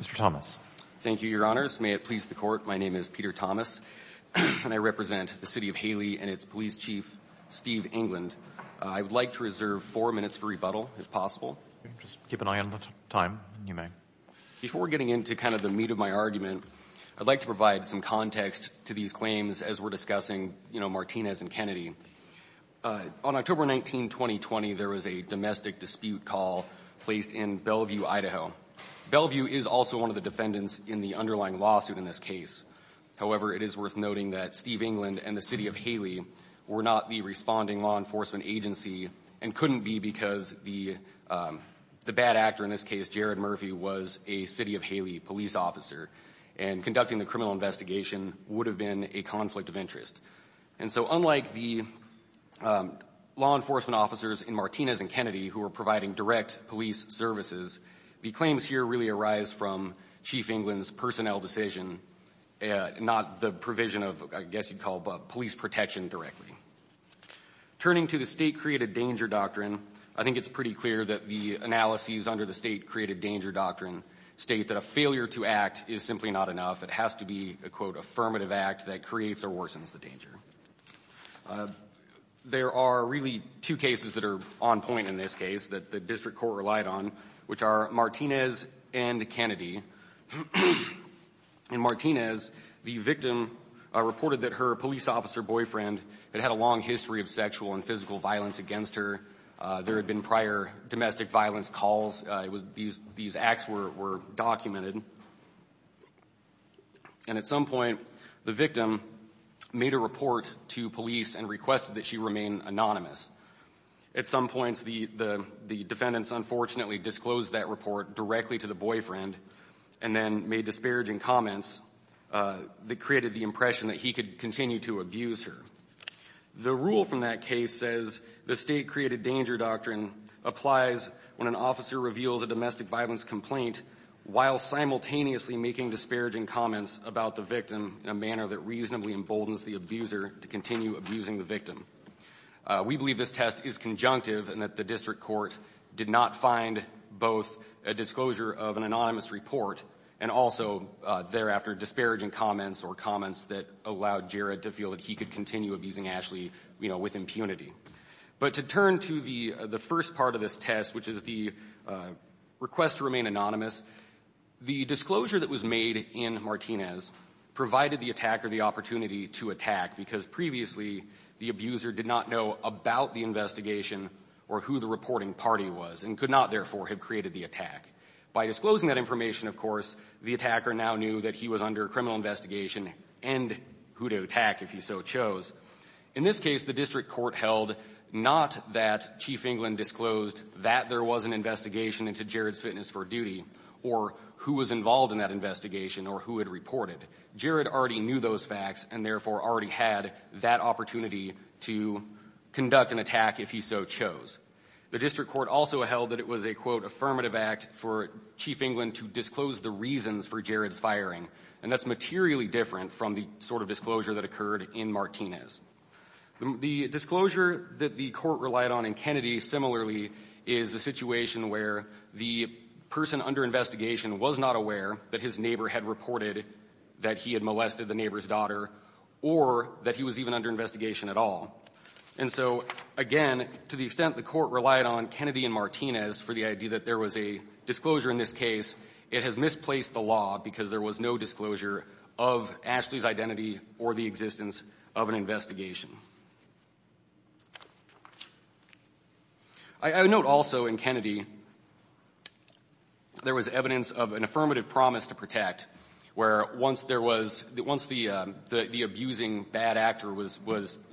Mr. Thomas. Thank you, Your Honors. May it please the Court, my name is Peter Thomas, and I represent the City of Hailey and its Police Chief, Steve England. I would like to reserve four minutes for rebuttal, if possible. Just keep an eye on the time, if you may. Before getting into kind of the meat of my argument, I'd like to provide some context to these claims as we're discussing, you know, Martinez and Kennedy. On October 19, 2020, there was a domestic dispute call placed in Bellevue, Idaho. Bellevue is also one of the defendants in the underlying lawsuit in this case. However, it is worth noting that Steve England and the City of Hailey were not the responding law enforcement agency and couldn't be because the bad actor in this case, Jared Murphy, was a City of Hailey police officer. And conducting the criminal investigation would have been a conflict of interest. And so unlike the law enforcement officers in Martinez and Kennedy who were providing direct police services, the claims here really arise from Chief England's personnel decision, not the provision of, I guess you'd call, police protection directly. Turning to the State Created Danger Doctrine, I think it's pretty clear that the analyses under the State Created Danger Doctrine state that a failure to act is simply not enough. It has to be a, quote, affirmative act that creates or worsens the danger. There are really two cases that are on point in this case that the district court relied on, which are Martinez and Kennedy. In Martinez, the victim reported that her police officer boyfriend had had a long history of sexual and physical violence against her. There had been prior domestic violence calls. These acts were documented. And at some point, the victim made a report to police and requested that she remain anonymous. At some points, the defendants unfortunately disclosed that report directly to the boyfriend and then made disparaging comments that created the impression that he could continue to abuse her. The rule from that case says the State Created Danger Doctrine applies when an officer reveals a domestic violence complaint while simultaneously making disparaging comments about the victim in a manner that reasonably emboldens the abuser to continue abusing the victim. We believe this test is conjunctive and that the district court did not find both a disclosure of an anonymous report and also thereafter disparaging comments or comments that allowed Jared to feel that he could continue abusing Ashley, you know, with impunity. But to turn to the first part of this test, which is the request to remain anonymous, the disclosure that was made in Martinez provided the attacker the opportunity to attack because previously the abuser did not know about the investigation or who the reporting party was and could not, therefore, have created the attack. By disclosing that information, of course, the attacker now knew that he was under criminal investigation and who to attack if he so chose. In this case, the district court held not that Chief England disclosed that there was an investigation into Jared's fitness for duty or who was involved in that investigation or who had reported. Jared already knew those facts and, therefore, already had that opportunity to conduct an attack if he so chose. The district court also held that it was a, quote, affirmative act for Chief England to disclose the reasons for Jared's firing, and that's materially different from the sort of disclosure that occurred in Martinez. The disclosure that the court relied on in Kennedy, similarly, is a situation where the person under investigation was not aware that his neighbor had reported that he had molested the neighbor's daughter or that he was even under investigation at all. And so, again, to the extent the court relied on Kennedy and Martinez for the idea that there was a disclosure in this case, it has misplaced the law because there was no disclosure of Ashley's identity or the existence of an investigation. I note also in Kennedy there was evidence of an affirmative promise to protect, where once there was the one the abusing bad actor was,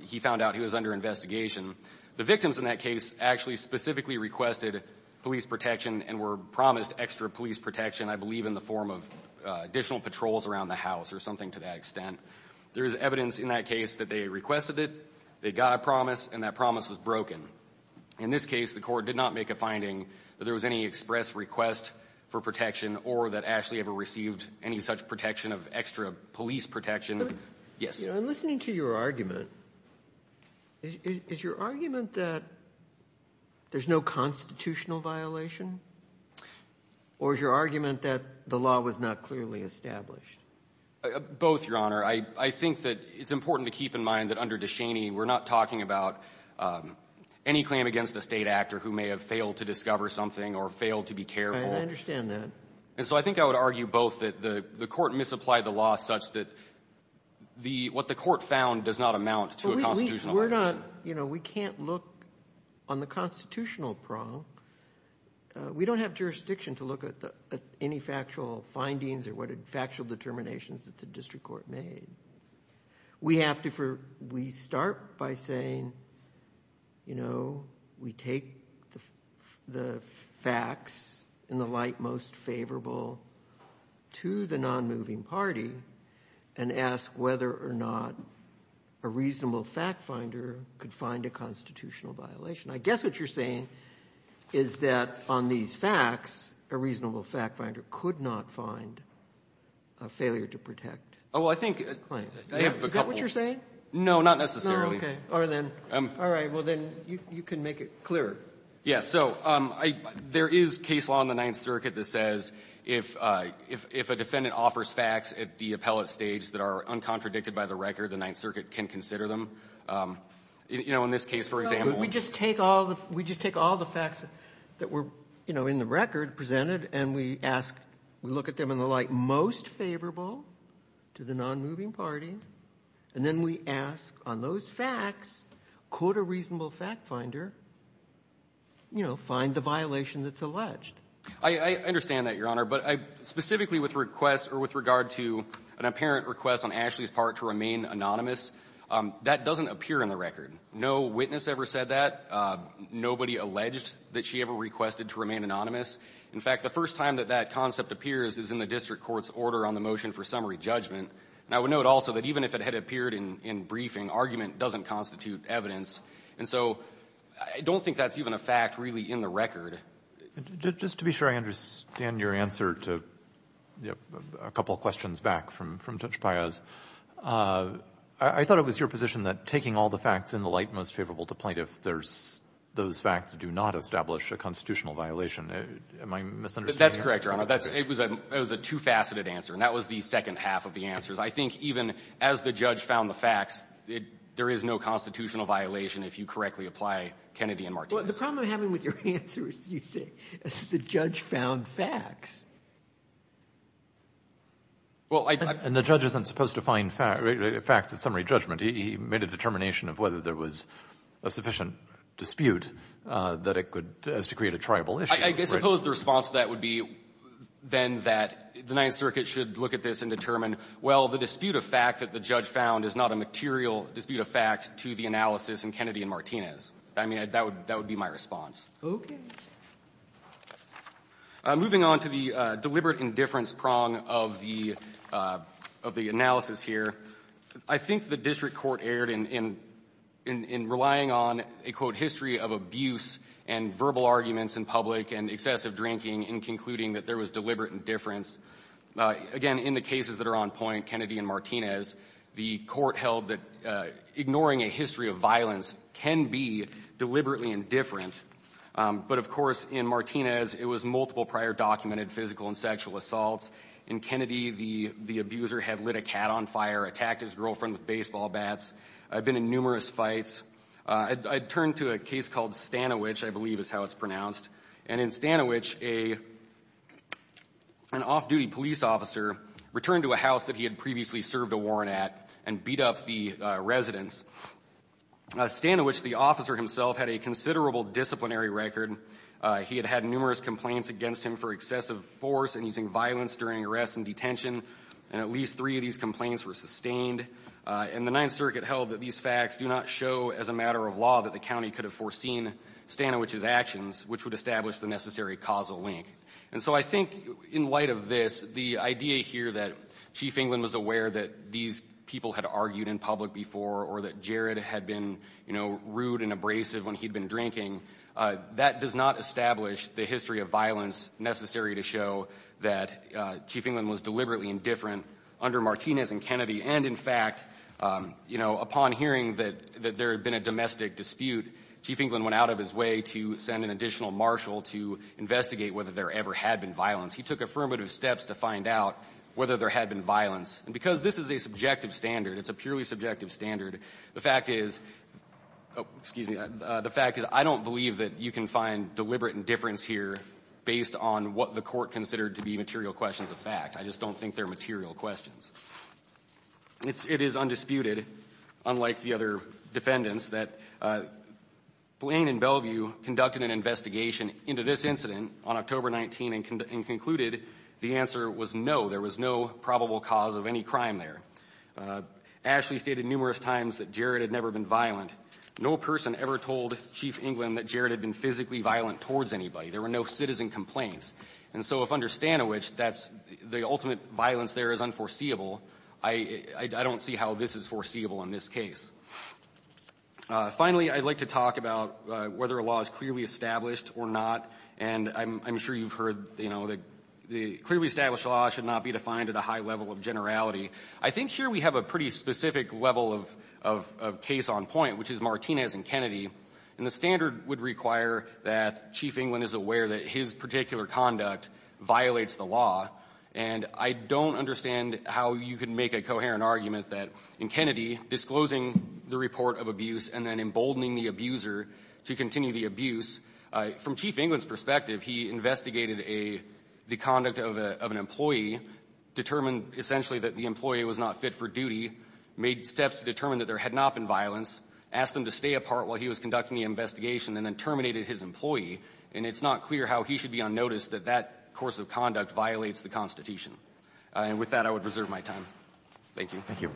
he found out he was under investigation. The victims in that case actually specifically requested police protection and were promised extra police protection, I believe, in the form of additional patrols around the house or something to that extent. There is evidence in that case that they requested it, they got a promise, and that promise was broken. In this case, the court did not make a finding that there was any express request for protection or that Ashley ever received any such protection of extra police protection. Yes. I'm listening to your argument. Is your argument that there's no constitutional violation, or is your argument that the law was not clearly established? Both, Your Honor. I think that it's important to keep in mind that under Descheny we're not talking about any claim against a State actor who may have failed to discover something or failed to be careful. I understand that. And so I think I would argue both, that the court misapplied the law such that the what the court found does not amount to a constitutional violation. We're not, you know, we can't look on the constitutional prong. We don't have jurisdiction to look at any factual findings or factual determinations that the district court made. We have to for we start by saying, you know, we take the facts in the light most favorable to the nonmoving party and ask whether or not a reasonable factfinder could find a constitutional violation. I guess what you're saying is that on these facts, a reasonable factfinder could not find a failure to protect. Oh, well, I think I have a couple. Is that what you're saying? No, not necessarily. All right. Well, then you can make it clearer. Yes. So there is case law in the Ninth Circuit that says if a defendant offers facts at the appellate stage that are uncontradicted by the record, the Ninth Circuit can consider them. You know, in this case, for example. We just take all the facts that were, you know, in the record presented, and we ask we look at them in the light most favorable to the nonmoving party, and then we ask on those facts, could a reasonable factfinder, you know, find the violation that's I understand that, Your Honor, but I specifically with requests or with regard to an apparent request on Ashley's part to remain anonymous, that doesn't appear in the record. No witness ever said that. Nobody alleged that she ever requested to remain anonymous. In fact, the first time that that concept appears is in the district court's order on the motion for summary judgment. And I would note also that even if it had appeared in briefing, argument doesn't constitute evidence. And so I don't think that's even a fact really in the record. Just to be sure I understand your answer to a couple questions back from Judge Payaz, I thought it was your position that taking all the facts in the light most favorable to the nonmoving party is a constitutional violation. Am I misunderstanding you? That's correct, Your Honor. It was a two-faceted answer, and that was the second half of the answers. I think even as the judge found the facts, there is no constitutional violation if you correctly apply Kennedy and Martinez. Well, the problem I'm having with your answer is you say as the judge found facts. And the judge isn't supposed to find facts at summary judgment. He made a determination of whether there was a sufficient dispute that it could as to create a triable issue. I suppose the response to that would be then that the Ninth Circuit should look at this and determine, well, the dispute of fact that the judge found is not a material dispute of fact to the analysis in Kennedy and Martinez. I mean, that would be my response. Okay. Moving on to the deliberate indifference prong of the analysis here, I think the district court erred in relying on a, quote, history of abuse and verbal arguments in public and excessive drinking in concluding that there was deliberate indifference. Again, in the cases that are on point, Kennedy and Martinez, the court held that ignoring a history of violence can be deliberately indifferent. But, of course, in Martinez, it was multiple prior documented physical and sexual assaults. In Kennedy, the abuser had lit a cat on fire, attacked his girlfriend with baseball bats, been in numerous fights. I turn to a case called Stanovich, I believe is how it's pronounced. And in Stanovich, an off-duty police officer returned to a house that he had previously served a warrant at and beat up the residents. Stanovich, the officer himself, had a considerable disciplinary record. He had had numerous complaints against him for excessive force and using violence during arrests and detention, and at least three of these complaints were sustained. And the Ninth Circuit held that these facts do not show as a matter of law that the county could have foreseen Stanovich's actions, which would establish the necessary causal link. And so I think in light of this, the idea here that Chief England was aware that these people had argued in public before or that Jared had been, you know, rude and violent does not establish the history of violence necessary to show that Chief England was deliberately indifferent under Martinez and Kennedy. And, in fact, you know, upon hearing that there had been a domestic dispute, Chief England went out of his way to send an additional marshal to investigate whether there ever had been violence. He took affirmative steps to find out whether there had been violence. And because this is a subjective standard, it's a purely subjective standard, the fact is the fact is I don't believe that you can find deliberate indifference here based on what the Court considered to be material questions of fact. I just don't think they're material questions. It is undisputed, unlike the other defendants, that Blaine and Bellevue conducted an investigation into this incident on October 19 and concluded the answer was no. There was no probable cause of any crime there. Ashley stated numerous times that Jared had never been violent. No person ever told Chief England that Jared had been physically violent towards anybody. There were no citizen complaints. And so if under Stanowich, that's the ultimate violence there is unforeseeable. I don't see how this is foreseeable in this case. Finally, I'd like to talk about whether a law is clearly established or not. And I'm sure you've heard, you know, that the clearly established law should not be defined at a high level of generality. I think here we have a pretty specific level of case on point, which is Martinez and Kennedy. And the standard would require that Chief England is aware that his particular conduct violates the law, and I don't understand how you can make a coherent argument that in Kennedy, disclosing the report of abuse and then emboldening the abuser to continue the abuse, from Chief England's perspective, he investigated the conduct of an employee, determined essentially that the employee was not fit for duty, made steps to determine that there had not been violence, asked him to stay apart while he was conducting the investigation, and then terminated his employee, and it's not clear how he should be unnoticed that that course of conduct violates the Constitution. And with that, I would reserve my time. Thank you. Thank you.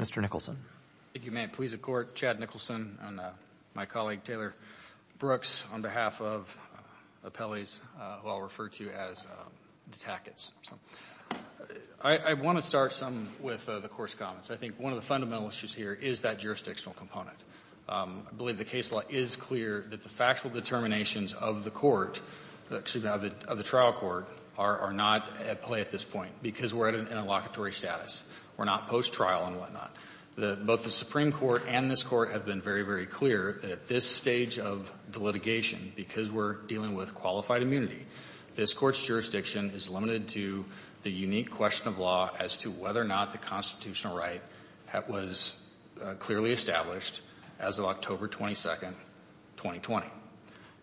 Mr. Nicholson. If you may, please, the Court. Chad Nicholson and my colleague, Taylor Brooks, on behalf of appellees who I'll refer to as the Tacketts. I want to start some with the course comments. I think one of the fundamental issues here is that jurisdictional component. I believe the case law is clear that the factual determinations of the court, excuse me, of the trial court, are not at play at this point because we're at an interlocutory status. We're not post-trial and whatnot. Both the Supreme Court and this Court have been very, very clear that at this stage of the litigation, because we're dealing with qualified immunity, this Court's jurisdiction is limited to the unique question of law as to whether or not the constitutional right was clearly established as of October 22nd, 2020.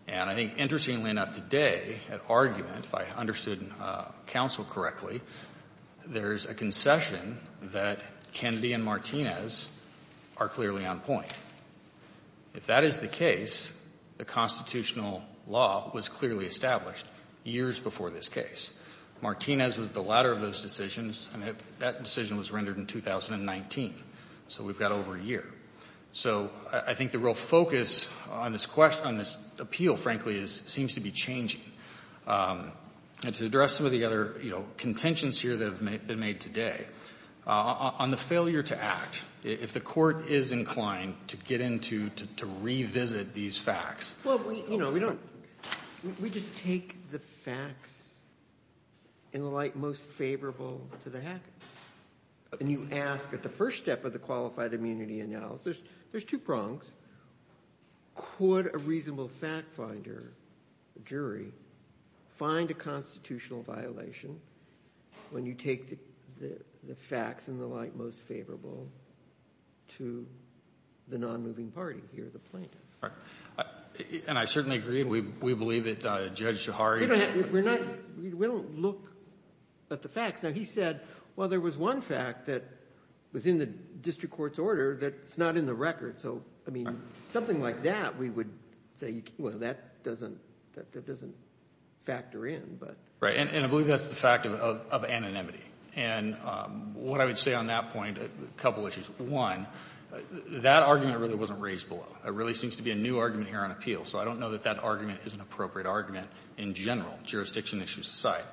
And I think interestingly enough today, at argument, if I understood counsel correctly, there's a concession that Kennedy and Martinez are clearly on point. If that is the case, the constitutional law was clearly established years before this case. Martinez was the latter of those decisions, and that decision was rendered in 2019. So we've got over a year. So I think the real focus on this question, on this appeal, frankly, seems to be changing. And to address some of the other, you know, contentions here that have been made today, on the failure to act, if the Court is inclined to get into, to revisit these facts. Well, we, you know, we don't, we just take the facts in the light most favorable to the hackers. And you ask at the first step of the qualified immunity analysis, there's two prongs. Could a reasonable fact finder, jury, find a constitutional violation when you take the facts in the light most favorable to the non-moving party, he or the plaintiff? Right. And I certainly agree. We believe that Judge Sahari ---- We're not, we don't look at the facts. Now, he said, well, there was one fact that was in the district court's order that's not in the record. So, I mean, something like that, we would say, well, that doesn't, that doesn't factor in. But ---- Right. And I believe that's the fact of anonymity. And what I would say on that point, a couple issues. One, that argument really wasn't raised below. There really seems to be a new argument here on appeal. So I don't know that that argument is an appropriate argument in general, jurisdiction issues aside.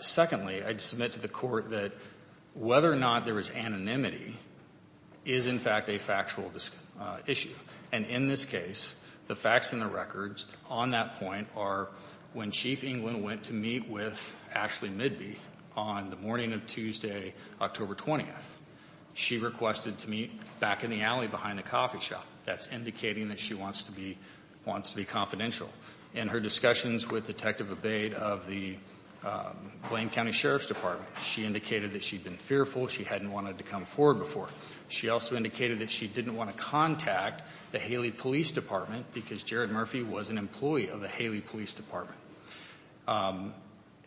Secondly, I'd submit to the Court that whether or not there was anonymity is, in fact, a factual issue. And in this case, the facts and the records on that point are when Chief England went to meet with Ashley Midby on the morning of Tuesday, October 20th, she requested to meet back in the alley behind the coffee shop. That's indicating that she wants to be, wants to be confidential. In her discussions with Detective Abate of the Blaine County Sheriff's Department, she indicated that she'd been fearful, she hadn't wanted to come forward before. She also indicated that she didn't want to contact the Haley Police Department because Jared Murphy was an employee of the Haley Police Department.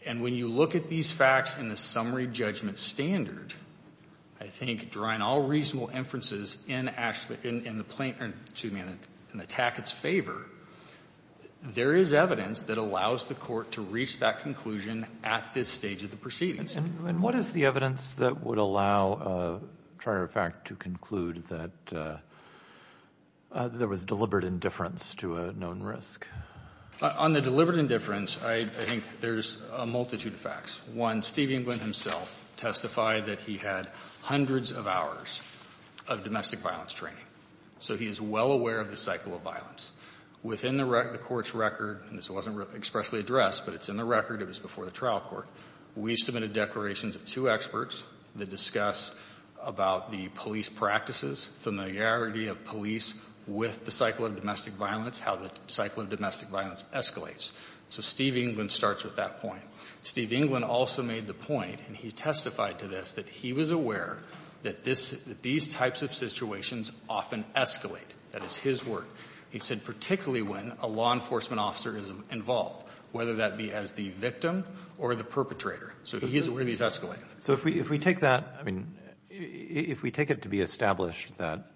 And when you look at these facts in the summary judgment standard, I think, drawing all reasonable inferences in Ashley, in the plaintiff's, excuse me, in the Tackett's favor, there is evidence that allows the Court to reach that conclusion at this stage of the proceedings. And what is the evidence that would allow a trier of fact to conclude that there was deliberate indifference to a known risk? On the deliberate indifference, I think there's a multitude of facts. One, Steve Englund himself testified that he had hundreds of hours of domestic violence training. So he is well aware of the cycle of violence. Within the Court's record, and this wasn't expressly addressed, but it's in the record, it was before the trial court, we submitted declarations of two experts that discuss about the police practices, familiarity of police with the cycle of domestic violence, how the cycle of domestic violence escalates. So Steve Englund starts with that point. Steve Englund also made the point, and he testified to this, that he was aware that this, that these types of situations often escalate. That is his work. He said particularly when a law enforcement officer is involved, whether that be as the victim or the perpetrator. So he's aware he's escalating. So if we take that, I mean, if we take it to be established that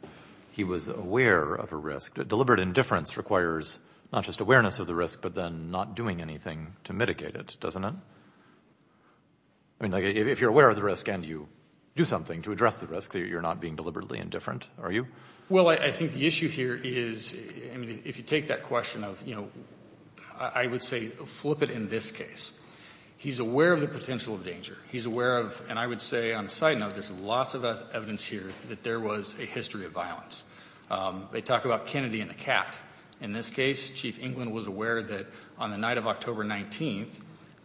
he was aware of a risk, deliberate indifference requires not just awareness of the risk, but then not doing anything to mitigate it, doesn't it? I mean, like if you're aware of the risk and you do something to address the risk, you're not being deliberately indifferent, are you? Well, I think the issue here is, I mean, if you take that question of, you know, I would say flip it in this case. He's aware of the potential of danger. He's aware of, and I would say on a side note, there's lots of evidence here that there was a history of violence. They talk about Kennedy and the cat. In this case, Chief England was aware that on the night of October 19th,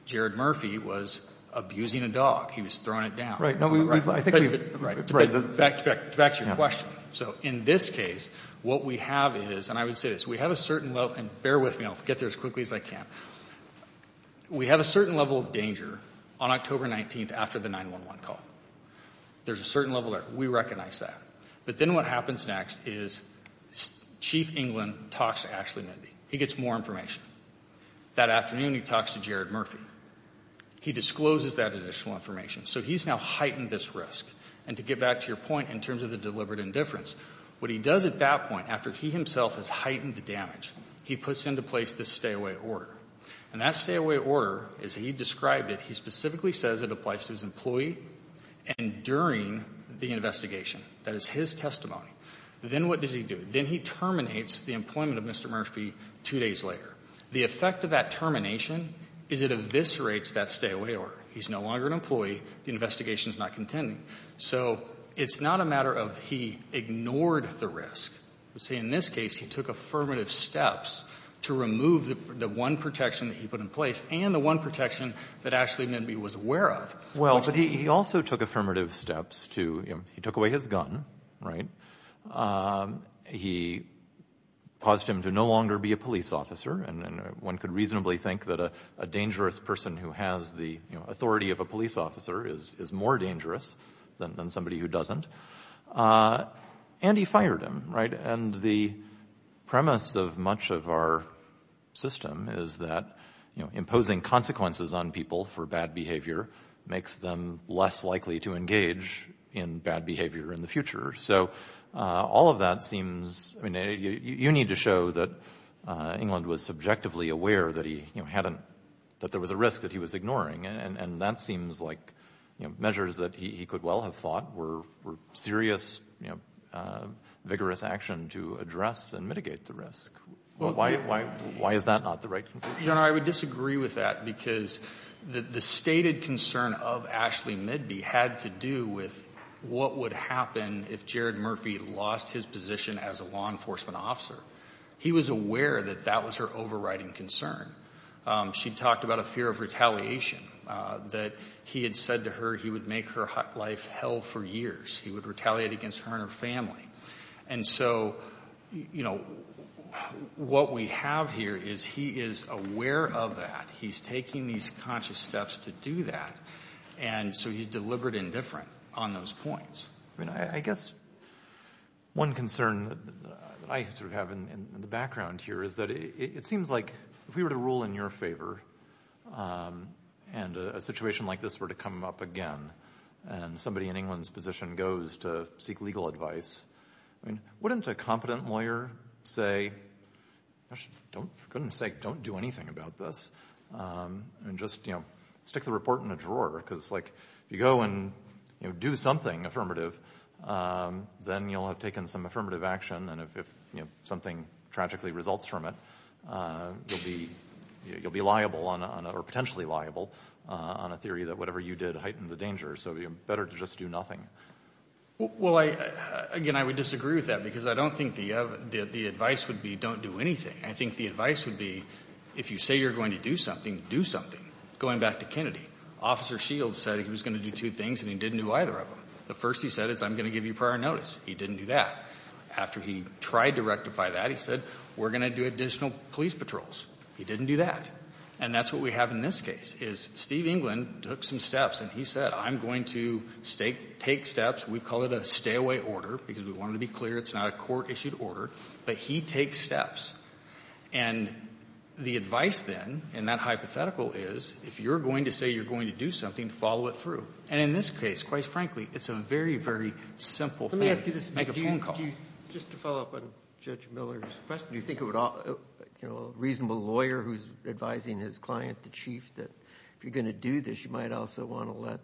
Jared Murphy was abusing a dog. He was throwing it down. Right. No, I think we've. Back to your question. So in this case, what we have is, and I would say this, we have a certain level, and bear with me, I'll get there as quickly as I can. We have a certain level of danger on October 19th after the 911 call. There's a certain level there. We recognize that. But then what happens next is Chief England talks to Ashley Mindy. He gets more information. That afternoon, he talks to Jared Murphy. He discloses that additional information. So he's now heightened this risk. And to get back to your point in terms of the deliberate indifference, what he does at that point, after he himself has heightened the damage, he puts into place this stay-away order. And that stay-away order, as he described it, he specifically says it applies to his employee and during the investigation. That is his testimony. Then what does he do? Then he terminates the employment of Mr. Murphy two days later. The effect of that termination is it eviscerates that stay-away order. He's no longer an employee. The investigation is not contending. So it's not a matter of he ignored the risk. You see, in this case, he took affirmative steps to remove the one protection that he put in place and the one protection that Ashley Mindy was aware of. Well, but he also took affirmative steps to, you know, he took away his gun, right? He paused him to no longer be a police officer. And one could reasonably think that a dangerous person who has the, you know, authority of a police officer is more dangerous than somebody who doesn't. And he fired him, right? And the premise of much of our system is that, you know, imposing consequences on people for bad behavior makes them less likely to engage in bad behavior in the future. So all of that seems, I mean, you need to show that England was subjectively aware that he, you know, had a, that there was a risk that he was ignoring. And that seems like, you know, measures that he could well have thought were serious, you know, vigorous action to address and mitigate the risk. Why is that not the right conclusion? You know, I would disagree with that because the stated concern of Ashley Mindy had to do with what would happen if Jared Murphy lost his position as a law enforcement officer. He was aware that that was her overriding concern. She talked about a fear of retaliation, that he had said to her he would make her life hell for years. He would retaliate against her and her family. And so, you know, what we have here is he is aware of that. He's taking these conscious steps to do that. And so he's deliberate and different on those points. I mean, I guess one concern that I sort of have in the background here is that it seems like if we were to rule in your favor and a situation like this were to come up again and somebody in England's position goes to seek legal advice, I mean, wouldn't a competent lawyer say, gosh, for goodness sake, don't do anything about this and just, you know, stick the report in a drawer? Because, like, if you go and, you know, do something affirmative, then you'll have taken some affirmative action. And if, you know, something tragically results from it, you'll be liable or potentially liable on a theory that whatever you did heightened the danger. So better to just do nothing. Well, again, I would disagree with that because I don't think the advice would be don't do anything. I think the advice would be if you say you're going to do something, do something. Going back to Kennedy, Officer Shields said he was going to do two things, and he didn't do either of them. The first, he said, is I'm going to give you prior notice. He didn't do that. After he tried to rectify that, he said, we're going to do additional police patrols. He didn't do that. And that's what we have in this case, is Steve England took some steps, and he said, I'm going to take steps. We call it a stay-away order because we wanted to be clear it's not a court-issued order. But he takes steps. And the advice then in that hypothetical is if you're going to say you're going to do something, follow it through. And in this case, quite frankly, it's a very, very simple thing. Let me ask you this. Just to follow up on Judge Miller's question. Do you think a reasonable lawyer who's advising his client, the chief, that if you're going to do this, you might also want to let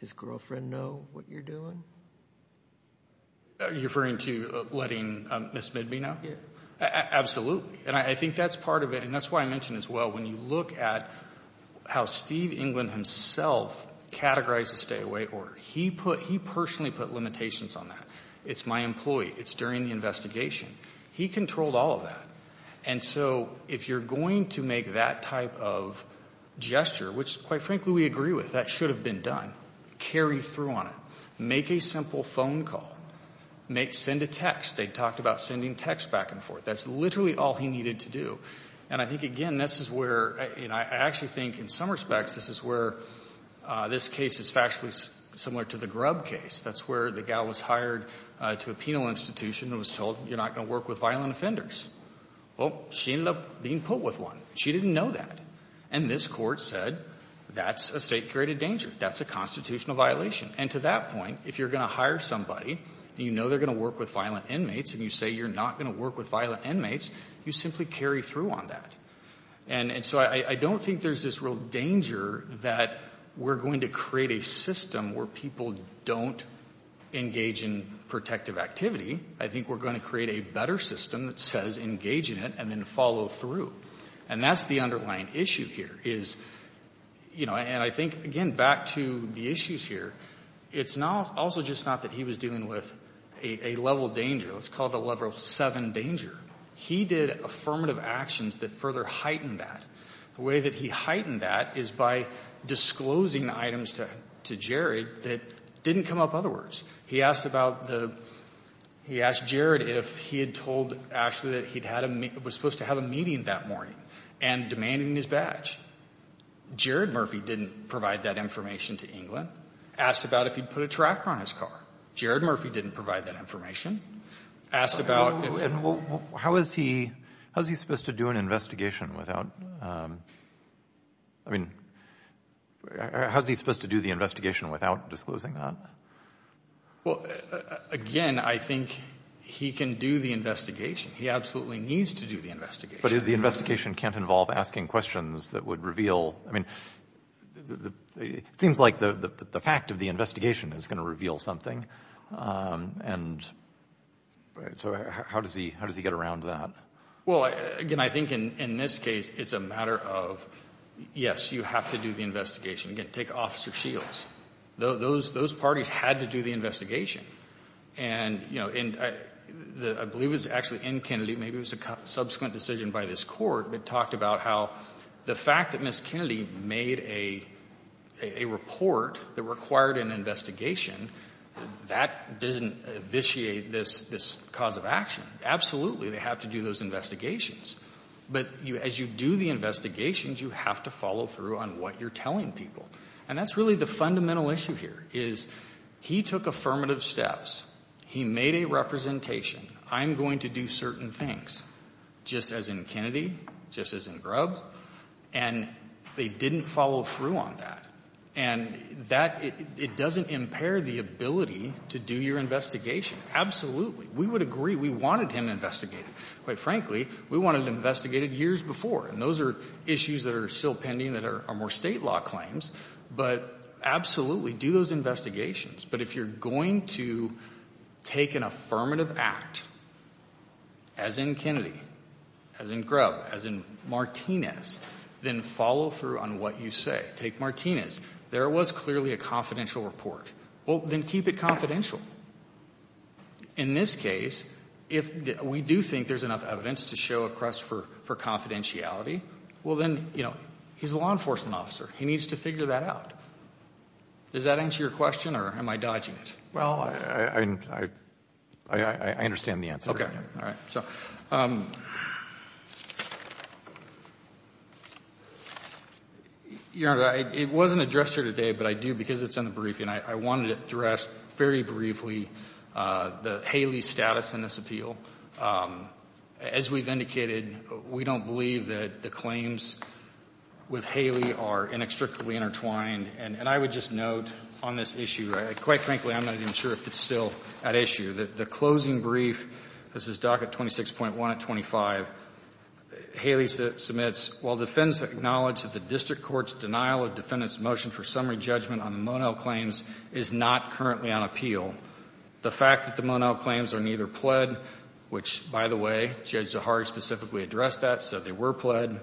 his girlfriend know what you're doing? Are you referring to letting Ms. Midby know? Yes. Absolutely. And I think that's part of it. And that's why I mentioned as well, when you look at how Steve England himself categorized the stay-away order, he personally put limitations on that. It's my employee. It's during the investigation. He controlled all of that. And so if you're going to make that type of gesture, which quite frankly we agree with, that should have been done, carry through on it, make a simple phone call, send a text. They talked about sending texts back and forth. That's literally all he needed to do. And I think, again, this is where I actually think in some respects this is where this case is factually similar to the Grub case. That's where the gal was hired to a penal institution and was told you're not going to work with violent offenders. Well, she ended up being put with one. She didn't know that. And this court said that's a state-created danger. That's a constitutional violation. And to that point, if you're going to hire somebody and you know they're going to work with violent inmates and you say you're not going to work with violent inmates, you simply carry through on that. And so I don't think there's this real danger that we're going to create a system where people don't engage in protective activity. I think we're going to create a better system that says engage in it and then follow through. And that's the underlying issue here is, you know, and I think, again, back to the issues here, it's also just not that he was dealing with a level of danger. Let's call it a level 7 danger. He did affirmative actions that further heightened that. The way that he heightened that is by disclosing items to Jared that didn't come up other words. He asked about the — he asked Jared if he had told Ashley that he'd had a — was supposed to have a meeting that morning and demanding his badge. Jared Murphy didn't provide that information to England. Asked about if he'd put a tracker on his car. Jared Murphy didn't provide that information. Asked about if — Well, how is he — how is he supposed to do an investigation without — I mean, how is he supposed to do the investigation without disclosing that? Well, again, I think he can do the investigation. He absolutely needs to do the investigation. But the investigation can't involve asking questions that would reveal — I mean, it seems like the fact of the investigation is going to reveal something. And so how does he — how does he get around that? Well, again, I think in this case it's a matter of, yes, you have to do the investigation. Again, take Officer Shields. Those parties had to do the investigation. And, you know, I believe it was actually in Kennedy, maybe it was a subsequent decision by this court, that talked about how the fact that Ms. Kennedy made a report that required an investigation, that doesn't vitiate this cause of action. Absolutely, they have to do those investigations. But as you do the investigations, you have to follow through on what you're telling people. And that's really the fundamental issue here is he took affirmative steps. He made a representation. I'm going to do certain things. Just as in Kennedy, just as in Grubbs. And they didn't follow through on that. And that — it doesn't impair the ability to do your investigation. Absolutely. We would agree we wanted him investigated. Quite frankly, we wanted him investigated years before. And those are issues that are still pending that are more state law claims. But absolutely, do those investigations. But if you're going to take an affirmative act, as in Kennedy, as in Grubbs, as in Martinez, then follow through on what you say. Take Martinez. There was clearly a confidential report. Well, then keep it confidential. In this case, if we do think there's enough evidence to show a crust for confidentiality, well, then, you know, he's a law enforcement officer. He needs to figure that out. Does that answer your question, or am I dodging it? Well, I understand the answer. All right. So, Your Honor, it wasn't addressed here today, but I do, because it's in the briefing. I wanted to address very briefly the Haley status in this appeal. As we've indicated, we don't believe that the claims with Haley are inextricably intertwined. And I would just note on this issue, quite frankly, I'm not even sure if it's still at issue. The closing brief, this is docket 26.1 at 25, Haley submits, While defendants acknowledge that the district court's denial of defendant's motion for summary judgment on the Monell claims is not currently on appeal, the fact that the Monell claims are neither pled, which, by the way, Judge Zahari specifically addressed that, said they were pled,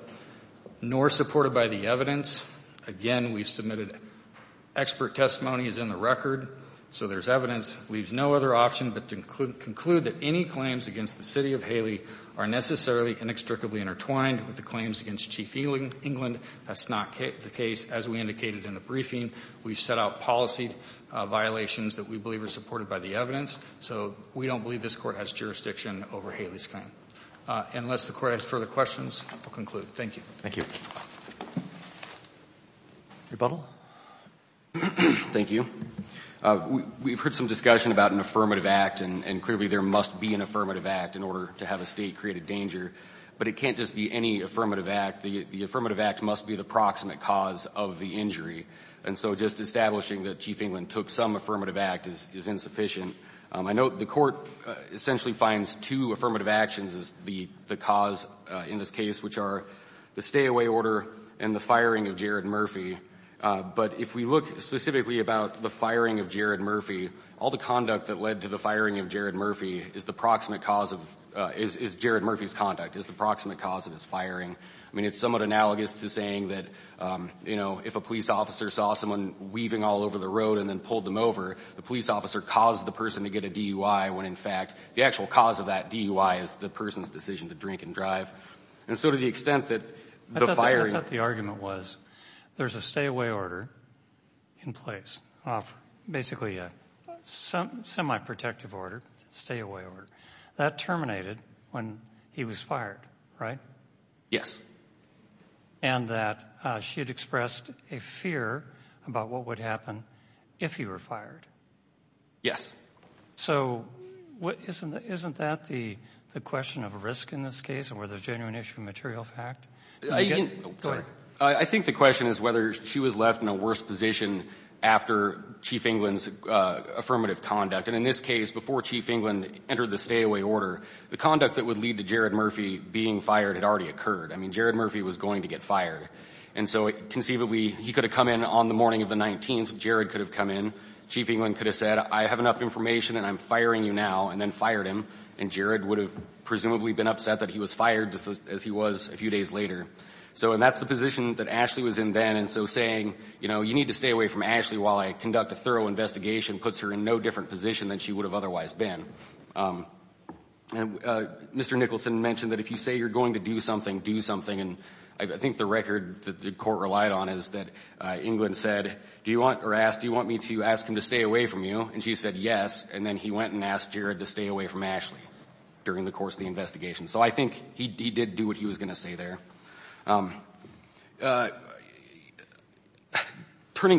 nor supported by the evidence. Again, we've submitted expert testimony is in the record, so there's evidence, leaves no other option but to conclude that any claims against the city of Haley are necessarily inextricably intertwined with the claims against Chief England. That's not the case. As we indicated in the briefing, we've set out policy violations that we believe are supported by the evidence. So we don't believe this Court has jurisdiction over Haley's claim. Unless the Court has further questions, we'll conclude. Thank you. Thank you. Rebuttal. Thank you. We've heard some discussion about an affirmative act, and clearly there must be an affirmative act in order to have a State create a danger. But it can't just be any affirmative act. The affirmative act must be the proximate cause of the injury. And so just establishing that Chief England took some affirmative act is insufficient. I note the Court essentially finds two affirmative actions as the cause in this case, which are the stay-away order and the firing of Jared Murphy. But if we look specifically about the firing of Jared Murphy, all the conduct that led to the firing of Jared Murphy is the proximate cause of, is Jared Murphy's conduct, is the proximate cause of his firing. I mean, it's somewhat analogous to saying that, you know, if a police officer saw someone weaving all over the road and then pulled them over, the police officer caused the person to get a DUI when, in fact, the actual cause of that DUI is the person's decision to drink and drive. And so to the extent that the firing ---- I thought the argument was there's a stay-away order in place, basically a semi-protective order, stay-away order. That terminated when he was fired, right? Yes. And that she had expressed a fear about what would happen if he were fired. Yes. So isn't that the question of risk in this case, or the genuine issue of material fact? Go ahead. I think the question is whether she was left in a worse position after Chief Englund's affirmative conduct. And in this case, before Chief Englund entered the stay-away order, the conduct that would lead to Jared Murphy being fired had already occurred. I mean, Jared Murphy was going to get fired. And so conceivably, he could have come in on the morning of the 19th. Jared could have come in. Chief Englund could have said, I have enough information and I'm firing you now, and then fired him. And Jared would have presumably been upset that he was fired as he was a few days later. So that's the position that Ashley was in then. And so saying, you know, you need to stay away from Ashley while I conduct a thorough investigation puts her in no different position than she would have otherwise been. And Mr. Nicholson mentioned that if you say you're going to do something, do something. And I think the record that the court relied on is that Englund said, do you want, or asked, do you want me to ask him to stay away from you? And she said yes. And then he went and asked Jared to stay away from Ashley during the course of the investigation. So I think he did do what he was going to say there. Turning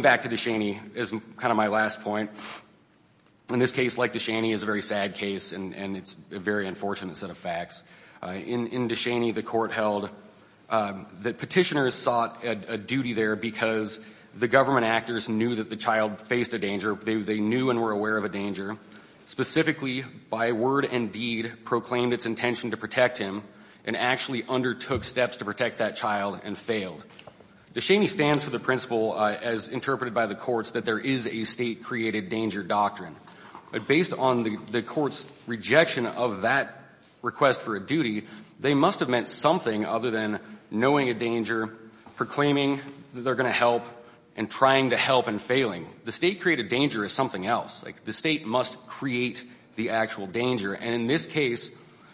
back to Descheny is kind of my last point. In this case, like Descheny, it's a very sad case and it's a very unfortunate set of facts. In Descheny, the court held that Petitioners sought a duty there because the government actors knew that the child faced a danger. They knew and were aware of a danger. Specifically, by word and deed, proclaimed its intention to protect him and actually undertook steps to protect that child and failed. Descheny stands for the principle, as interpreted by the courts, that there is a state created danger doctrine. But based on the court's rejection of that request for a duty, they must have meant something other than knowing a danger, proclaiming that they're going to help, and trying to help and failing. The state created danger is something else. Like, the state must create the actual danger. And in this case,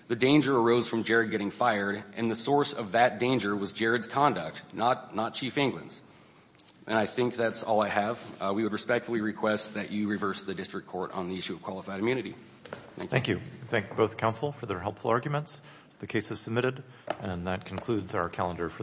the danger arose from Jared getting fired, and the source of that danger was Jared's conduct, not Chief England's. And I think that's all I have. We would respectfully request that you reverse the district court on the issue of qualified immunity. Thank you. Thank you. Thank both counsel for their helpful arguments. The case is submitted, and that concludes our calendar for the week.